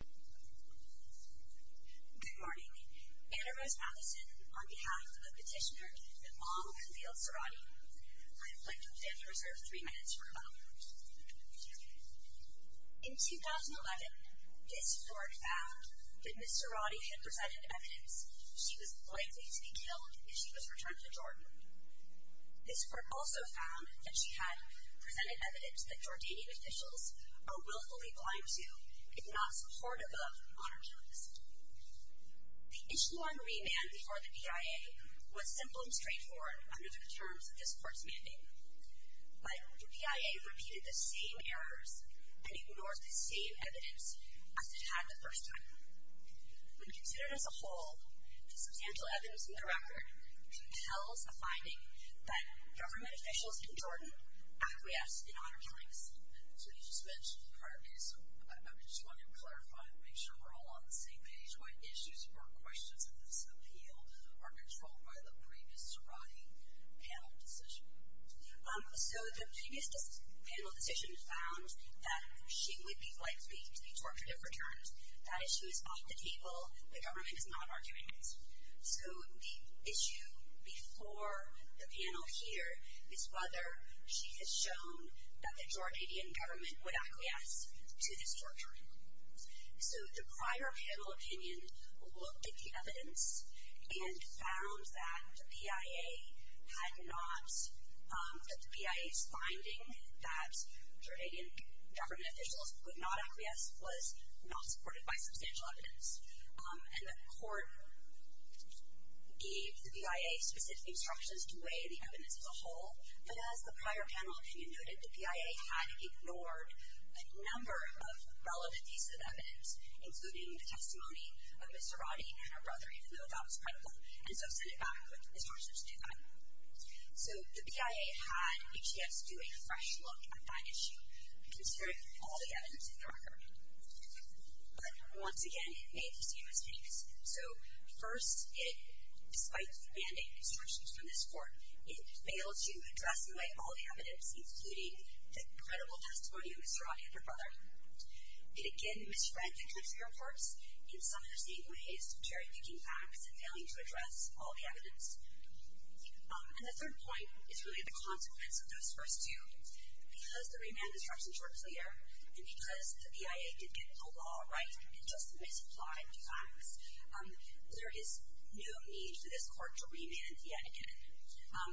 Good morning. Anna Rose Madison, on behalf of the petitioner that mottled and veiled Suradi, I'd like to give you reserved three minutes for a moment. In 2011, this court found that Ms. Suradi had presented evidence she was likely to be killed if she was returned to Jordan. This court also found that she had presented evidence that Jordanian officials are willfully blind to, if not supportive of, on her killing decision. The issue on remand before the P.I.A. was simple and straightforward under the terms of this court's mandate. But the P.I.A. repeated the same errors and ignored the same evidence as it had the first time. When considered as a whole, the substantial evidence in the record entails a finding that government officials in Jordan acquiesced in on her killing decision. So you just mentioned the prior case. I just wanted to clarify and make sure we're all on the same page when issues or questions of this appeal are controlled by the previous Suradi panel decision. So the previous panel decision found that she would be likely to be tortured if returned. That issue is off the table. The government is not arguing it. So the issue before the panel here is whether she has shown that the Jordanian government would acquiesce to this torture. So the prior panel opinion looked at the evidence and found that the P.I.A. had not, that the P.I.A.'s finding that Jordanian government officials would not acquiesce was not supported by substantial evidence. And the court gave the P.I.A. specific instructions to weigh the evidence as a whole. But as the prior panel opinion noted, the P.I.A. had ignored a number of relevant pieces of evidence, including the testimony of Ms. Suradi and her brother, even though that was critical. And so I've sent it back with instructions to do that. So the P.I.A. had a chance to do a fresh look at that issue, consider all the evidence in the record. But once again, it made the same mistakes. So first, it, despite demanding instructions from this court, it failed to address in a way all the evidence, including the credible testimony of Ms. Suradi and her brother. It again misread the country reports. In some interesting ways, cherry-picking facts and failing to address all the evidence. And the third point is really the consequence of those first two. Because the remand instructions were clear, and because the P.I.A. did get the law right, and just misapplied the facts, there is no need for this court to remand yet again.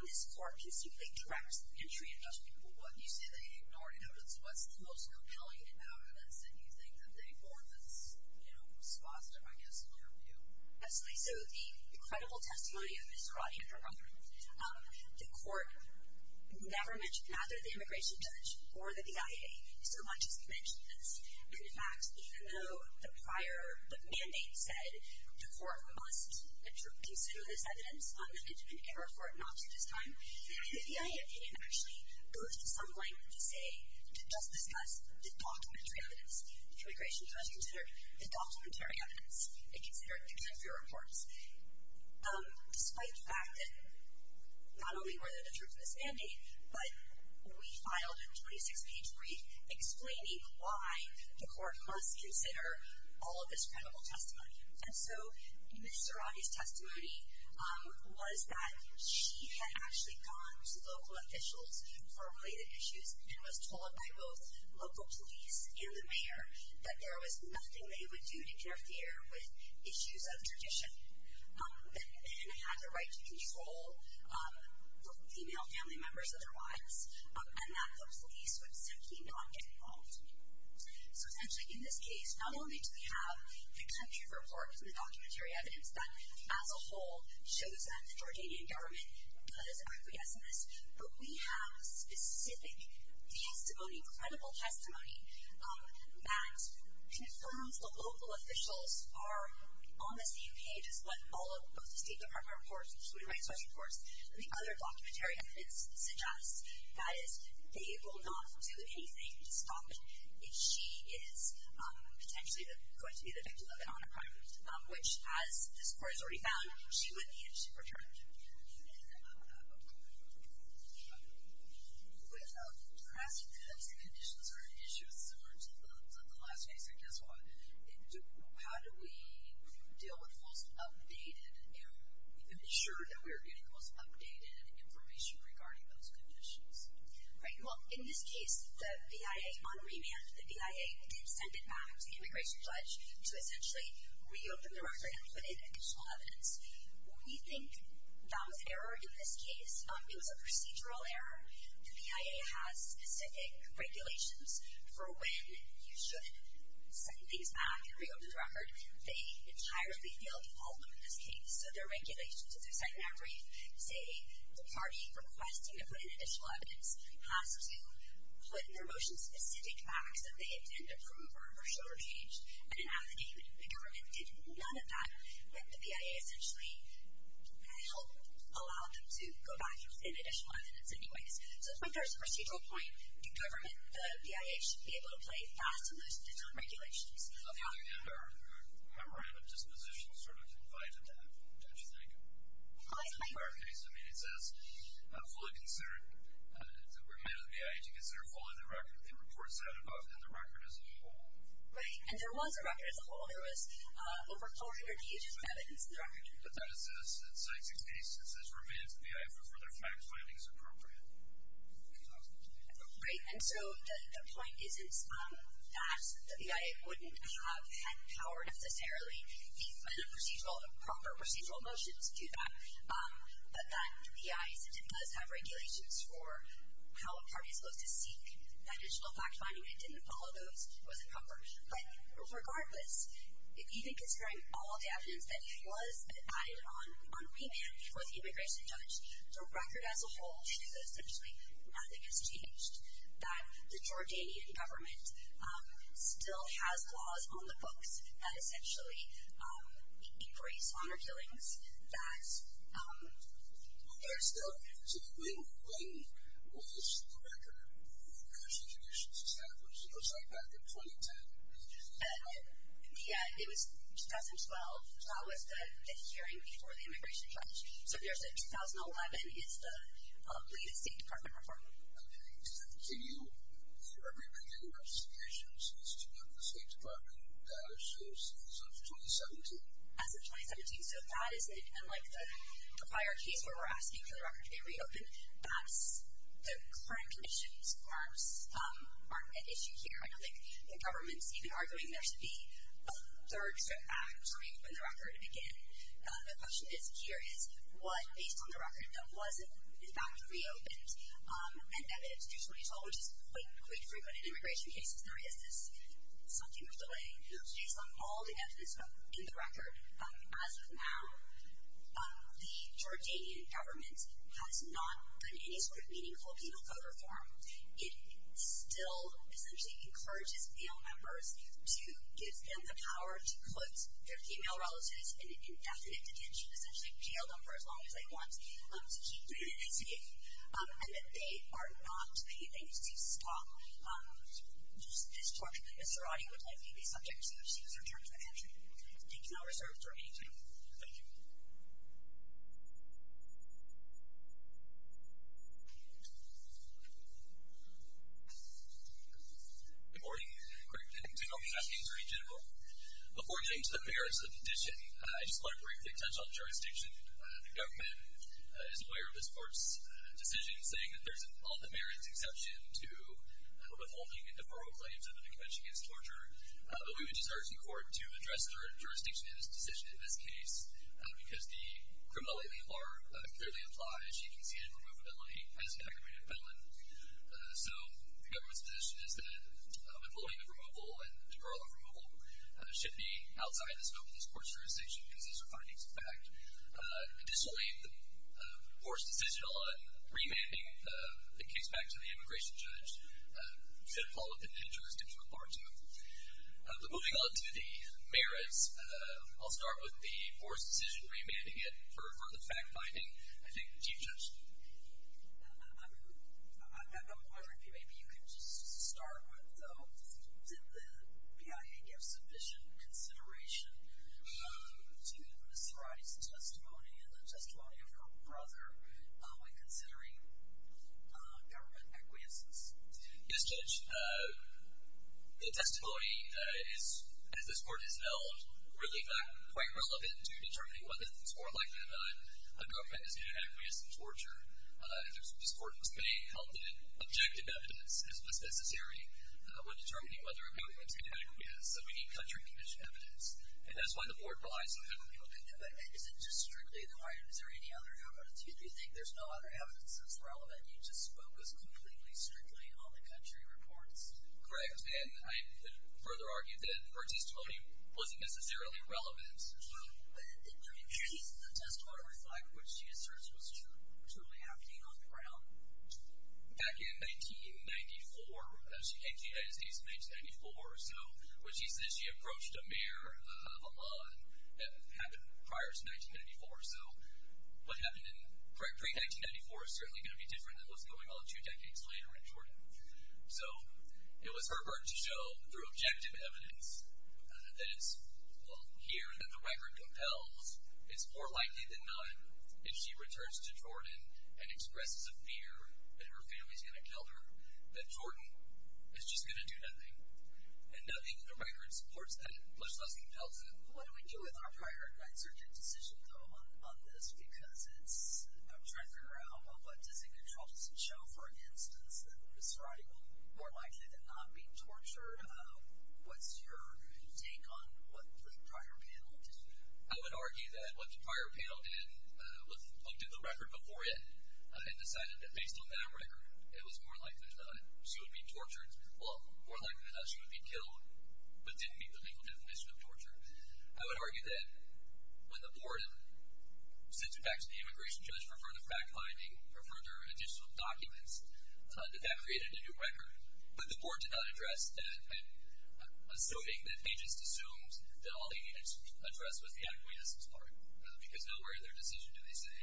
This court can simply direct entry into what you say they ignored, because what's the most compelling evidence that you think that they ignored that's, you know, was positive, I guess, in your view? Absolutely. So the credible testimony of Ms. Suradi and her brother, the court never mentioned either the immigration judge or the P.I.A. so much as they mentioned this. And, in fact, even though the prior mandate said the court must consider this evidence, and the court responded in error for it not to this time, the P.I.A. opinion actually goes to some length to say, to just discuss the documentary evidence. The immigration judge considered the documentary evidence. It considered the country reports. Despite the fact that not only were there the truths in this mandate, but we filed a 26-page brief explaining why the court must consider all of this credible testimony. And so Ms. Suradi's testimony was that she had actually gone to local officials for related issues and was told by both local police and the mayor that there was nothing they would do to interfere with issues of tradition, and had the right to control both female family members otherwise, and that the police would simply not get involved. So, essentially, in this case, not only do we have the country reports and the documentary evidence that, as a whole, shows that the Jordanian government does acquiesce in this, but we have specific testimony, credible testimony, that confirms the local officials are on the same page as what all of the State Department reports, the Human Rights Watch reports, and the other documentary evidence suggests, that is, they will not do anything to stop it. She is potentially going to be the victim of an honor crime, which, as this court has already found, she would need to return to. Okay. You were asking if those conditions are an issue similar to the last case, and guess what? How do we deal with the most updated and ensure that we are getting the most updated information regarding those conditions? Right, well, in this case, the VIA, on remand, the VIA did send it back to the Immigration Pledge to essentially reopen the record and put in additional evidence. We think that was error in this case. It was a procedural error. The VIA has specific regulations for when you should send things back and reopen the record. They entirely feel the ultimate in this case, so their regulations, if they're sent back brief, say the party requesting to put in additional evidence, has to put their motion-specific facts that they intend to prove are commercial or changed in an affidavit. The government did none of that, but the VIA essentially helped allow them to go back and put in additional evidence anyways. So it's my first procedural point. The government, the VIA, should be able to play fast and loose with its own regulations. On the other hand, our memorandum disposition sort of confided that. Don't you think? Well, I think... In our case, I mean, it says, fully considered that we're made of the VIA, to consider following the record, it reports that above, and the record as a whole. Right, and there was a record as a whole. There was over 400 pages of evidence in the record. But that is as it states in the case, it says we're made of the VIA for further fact-finding as appropriate. Right, and so the point isn't that the VIA wouldn't have had power necessarily in the proper procedural motions to do that, but that the VIA does have regulations for how a party is supposed to seek that additional fact-finding. It didn't follow those. It wasn't proper. But regardless, if you think, considering all of the evidence, that it was added on on remand before the immigration judge, the record as a whole says essentially nothing has changed, that the Jordanian government still has laws on the books that essentially increase honor killings, Well, there's still, so when was the record of immigration traditions established? Oh, sorry, back in 2010. Yeah, it was 2012. 2012 was the hearing before the immigration judge. So if you're saying 2011, it's the latest State Department report. Okay, does that continue for every region of the United States? Is that the State Department data shows since 2017? As of 2017, so that is it. And, like, the prior case where we're asking for the record to be reopened, that's the current conditions aren't an issue here. I don't think the government's even arguing there should be a third step back between when the record began. The question is here is what, based on the record, was it in fact reopened? And evidence usually told is quite frequent in immigration cases. Sorry, is this something of delay? Based on all the evidence in the record, as of now, the Jordanian government has not done any sort of meaningful penal code reform. It still essentially encourages male members to give them the power to put their female relatives in indefinite detention, essentially jailed them for as long as they want to keep doing this again. And that they are not a cease-and-stop discourse. Mr. Roddy would like to be the subject as soon as he's returned to the country. He's now reserved for a meeting. Thank you. Good morning, and good afternoon, Attorney General. Before getting to the merits of the petition, I just want to briefly touch on the jurisdiction. The government is aware of this Court's decision, saying that there's an all-the-merits exception to withholding and deferral claims under the Convention Against Torture. But we would just urge the Court to address their jurisdiction in this decision, in this case, because the criminality law clearly applies. You can see in removability as an aggravated felon. So the government's position is that withholding of removal and deferral of removal should be outside the scope of this Court's jurisdiction because these are findings of fact. Additionally, the Board's decision on remanding the case back to the immigration judge set a follow-up in interest, if required to. But moving on to the merits, I'll start with the Board's decision remanding it for the fact-finding. I think, Chief Judge. I'm wondering if maybe you could just start with, though, when the PIA gave sufficient consideration to Ms. Varady's testimony and the testimony of her brother when considering government acquiescence. Yes, Judge. The testimony is, as this Court has known, really quite relevant to determining whether things were likely that a girlfriend is due to acquiesce in torture. This Court was made confident objective evidence, and this was necessary when determining whether a girlfriend is going to acquiesce. So we need country-conditioned evidence, and that's why the Board relies on federal legal evidence. And is it just strictly the right? Is there any other evidence? Do you think there's no other evidence that's relevant, and you just focus completely, strictly on the country reports? Correct. And I could further argue that Varady's testimony wasn't necessarily relevant. Well, isn't the testimony reflect what she asserts was truly happening on the ground? Back in 1994, she came to the United States in 1994, so when she says she approached a mayor of Oman, that happened prior to 1994, so what happened in pre-1994 is certainly going to be different than what's going on two decades later in Jordan. So it was her work to show through objective evidence that it's here that the record compels it's more likely than none if she returns to Jordan and expresses a fear that her family is going to kill her, that Jordan is just going to do nothing, and nothing in the record supports that, plus nothing compels it. What do we do with our prior advisor to decision, though, on this? Because it's a record of what does he control? Does it show, for instance, that Ms. Varady will be more likely than not be tortured? What's your take on what the prior panel did? I would argue that what the prior panel did was looked at the record before it and decided that based on that record, it was more likely than not she would be tortured, well, more likely than not she would be killed, but didn't meet the legal definition of torture. I would argue that when the board sent it back to the immigration judge for further fact-finding, for further additional documents, that that created a new record, but the board did not address that, assuming that they just assumed that all they had addressed was the acquiescence part, because nowhere in their decision do they say,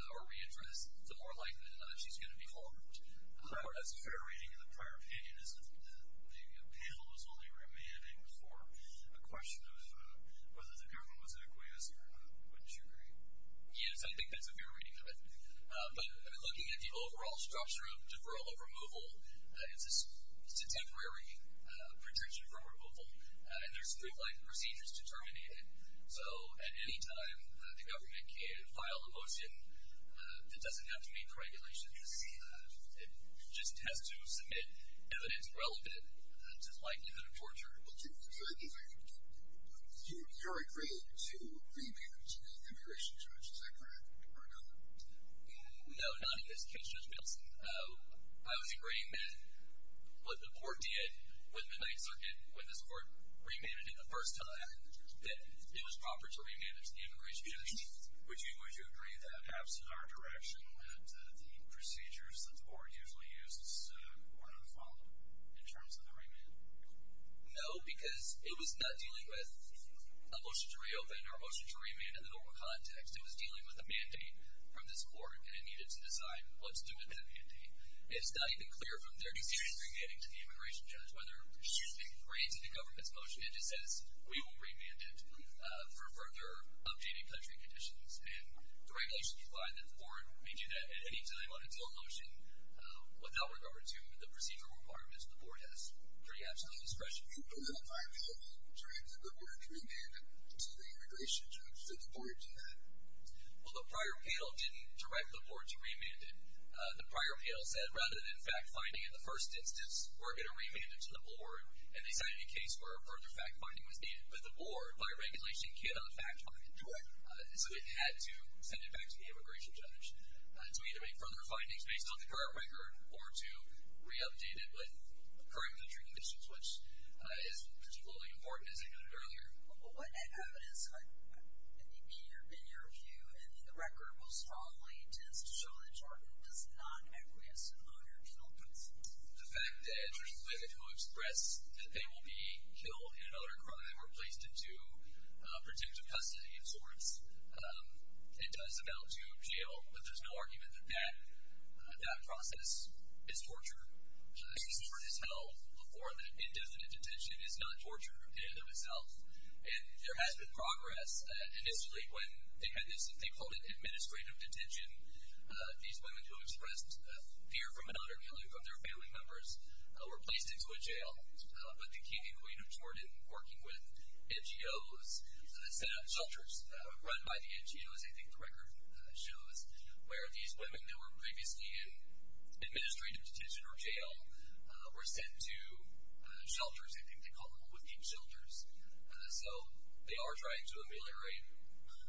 how are we going to address the more likely than not she's going to be harmed. As a fair reading of the prior opinion, the panel was only remanding for a question of whether the government was an acquiescer. Wouldn't you agree? Yes, I think that's a fair reading of it. But looking at the overall structure of deferral of removal, it's a temporary pretension from removal, and there's three procedures to terminate it. So at any time, the government can file a motion that doesn't have to meet the regulations. It just has to submit evidence relevant to the likelihood of torture. You're agreeing to remand to the immigration judge. Is that correct or not? No, not in this case, Judge Bilson. I would agree that what the board did with the Ninth Circuit, when this board remanded it the first time, that it was proper to remand it to the immigration judge. Would you agree that, absent our direction, that the procedures that the board usually uses were not followed in terms of the remand? No, because it was not dealing with a motion to reopen or a motion to remand in the normal context. It was dealing with a mandate from this board, and it needed to decide what's due to that mandate. It's not even clear from 30 years regaining to the immigration judge whether she's been granted a government's motion. It just says, we will remand it for further objecting country conditions. And the regulations provide that the board may do that at any time on its own motion without regard to the procedural requirements the board has. I agree absolutely with this question. But the prior appeal didn't direct the board to remand it to the immigration judge. Did the board do that? Well, the prior appeal didn't direct the board to remand it. The prior appeal said, rather than fact-finding in the first instance, we're going to remand it to the board, and they sent it in case where a further fact-finding was needed. But the board, by regulation, cannot fact-find it. Correct. So it had to send it back to the immigration judge. To either make further findings based on the current record or to re-update it with current country conditions, which is particularly important, as I noted earlier. What evidence, in your view, in the record, will strongly attest to show that Jordan does not agree with some of her appeal points? The fact that, interestingly, the court expressed that they will be killed in another crime or placed into protective custody of sorts. It does amount to jail, but there's no argument that that process is torture. The case for his health before the indefinite detention is not torture in and of itself. And there has been progress. Initially, when they had this thing called an administrative detention, these women who expressed fear from another family, from their family members, were placed into a jail. But the King and Queen of Jordan, working with NGOs, set up shelters run by the NGOs, I think the record shows, where these women that were previously in administrative detention or jail were sent to shelters, I think they call them, with deep shelters. So they are trying to ameliorate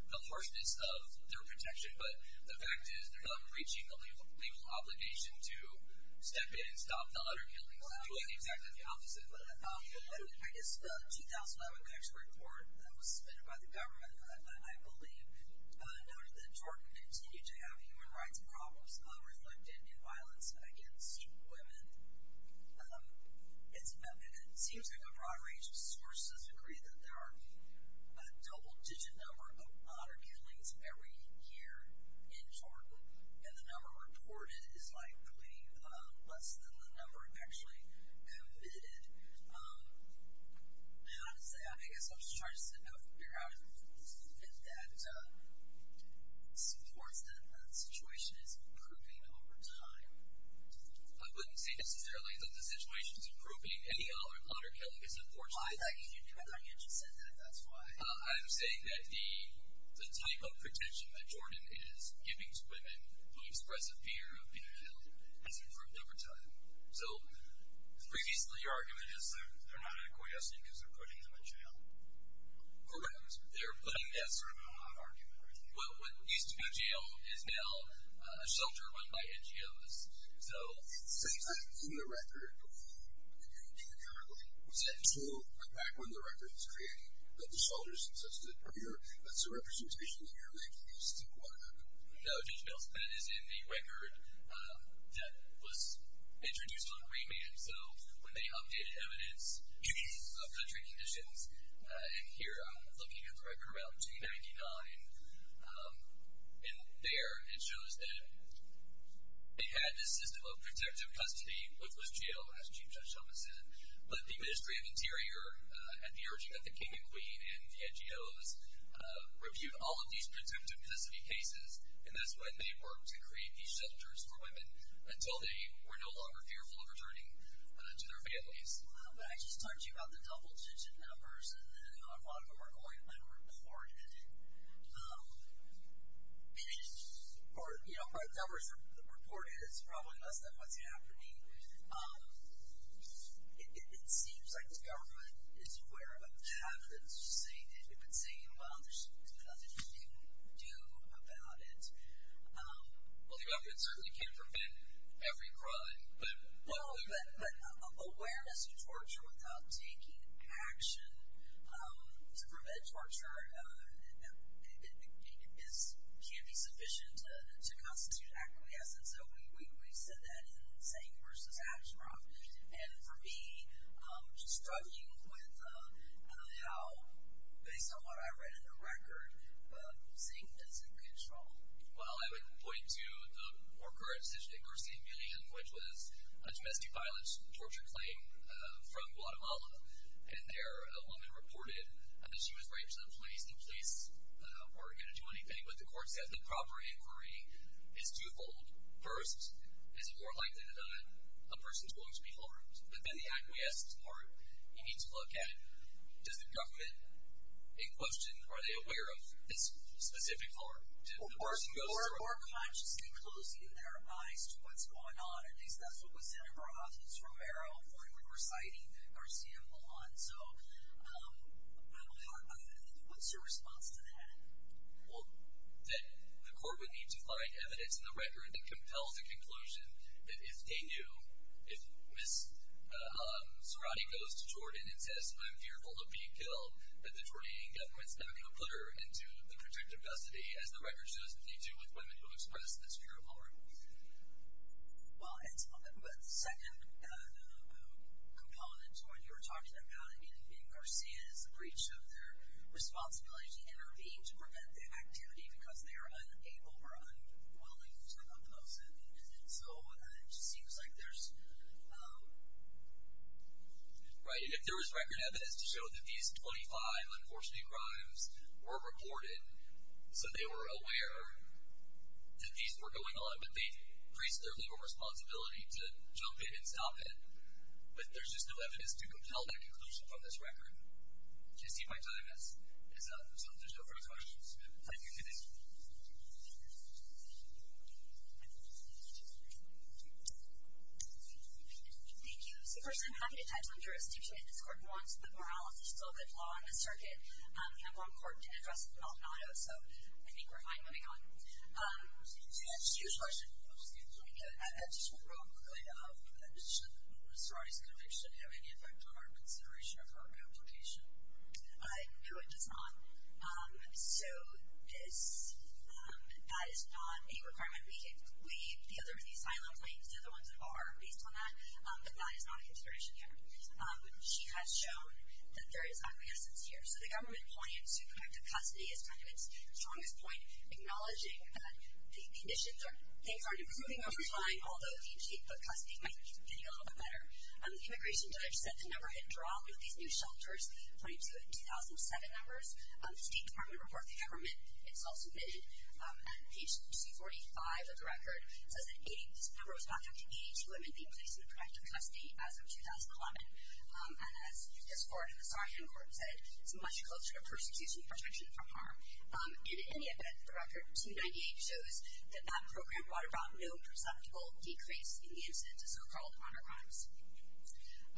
the harshness of their protection, but the fact is they're not reaching the legal obligation to step in and stop the other killings. Well, I'm getting exactly the opposite of what I thought. I guess the 2011 national report that was submitted by the government, I believe, noted that Jordan continued to have human rights problems reflected in violence against women. It seems like a broad range of sources agree that there are a double-digit number of murder killings every year in Jordan, and the number reported is likely less than the number actually committed. And honestly, I guess I'm just trying to sit down for a few hours and see if that supports that the situation is improving over time. I wouldn't say necessarily that the situation is improving. Any other murder killing is unfortunate. Why is that? Can you do better? You just said that. That's why. I'm saying that the type of protection that Jordan is giving to women who express a fear of being killed has improved over time. So, previously, your argument is that they're not in a courthouse because they're putting them in jail. Correct. They're putting them in jail. That's sort of an odd argument, right? Well, what used to be a jail is now a shelter run by NGOs. It says that in the record. In the record. What's that? So, like, back when the record was created, that the shelters existed, that's a representation that you're making. You just didn't want to have them. No, Judge Bell, that is in the record that was introduced on remand. So, when they updated evidence to these country conditions, and here I'm looking at the record around 1999, and there it shows that they had this system of protective custody, which was jail, as Chief Judge Shulman said. But the Ministry of Interior, at the urging of the King and Queen and the NGOs, reviewed all of these protective custody cases, and that's when they worked to create these shelters for women until they were no longer fearful of returning to their families. Wow. But I just talked to you about the double digit numbers, and a lot of them are going unreported. Or, you know, by the numbers reported, it's probably less than what's happening. It seems like the government is aware of what's happening. It's just saying that they've been saying, well, there's nothing you can do about it. Well, the government certainly can prevent every crime. Well, but awareness of torture without taking action to prevent torture can be sufficient to constitute acquiescence. And so we said that in saying versus action. And for me, struggling with how, based on what I read in the record, seemed as a good straw. Well, I would point to the more current decision, which was a domestic violence torture claim from Guatemala, and there a woman reported that she was raped in the police or didn't do anything. But the court said the proper inquiry is twofold. First, is it more likely than not a person's willing to be harmed? But then the acquiescence part, you need to look at, does the government, in question, are they aware of this specific harm? Or are they more conscious than closing their eyes to what's going on? At least that's what was said in her office, Romero, when we were citing Garcia and Lujan. So what's your response to that? Well, that the court would need to find evidence in the record that compels the conclusion that if they knew, if Ms. Zarate goes to Jordan and says, I'm fearful of being killed, that the Jordanian government's not going to put her into the protected custody, as the record shows that they do with women who express this fear of harm. Well, and the second component to what you were talking about, I mean, being Garcia is a breach of their responsibility to intervene to prevent the activity because they are unable or unwilling to oppose it. So it just seems like there's... Right, and if there was record evidence to show that these 25 unfortunate crimes were reported, so they were aware that these were going on, but they've raised their legal responsibility to jump in and stop it, but there's just no evidence to compel that conclusion from this record. Do you see my time is up? So there's no further questions. Thank you. Thank you. Thank you. So first of all, I'm not going to touch on jurisdiction that this court wants, but morality is still a bit of a law on the circuit. We have one court to address with an ultimato, so I think we're fine moving on. So that's your question. I just want to go quickly to health protection. Should a sorority's conviction have any effect on our consideration of her application? No, it does not. So that is not a requirement. The other asylum claims, they're the ones that are based on that, but that is not a consideration here. She has shown that there is ugliness here. So the government's point to conduct a custody is kind of its strongest point, acknowledging that the conditions are improving over time, although the custody might be getting a little bit better. The immigration judge said the number had dropped with these new shelters going to 2007 numbers. The State Department reported the government. It's also been at page 245 of the record. It says that this number was back up to 82 and being placed in the protective custody as of 2011. And as this court and the sargent court said, it's much closer to persecution protection from harm. And in any event, the record 298 shows that that program brought about no perceptible decrease in the incidence of so-called honor crimes. So that's the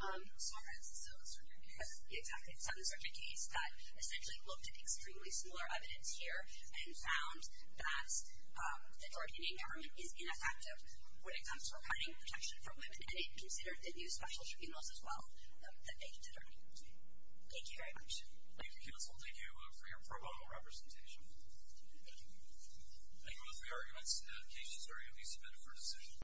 sargent case. Exactly. It's the sargent case that essentially looked at extremely similar evidence here and found that the Georgian government is ineffective when it comes to providing protection for women, and it considered the new special tribunals as well that they considered. Thank you very much. Thank you, counsel. Thank you for your pro bono representation. Thank you, judge. Thank you both. We are going to end the advocation. Sir, you may submit for decision.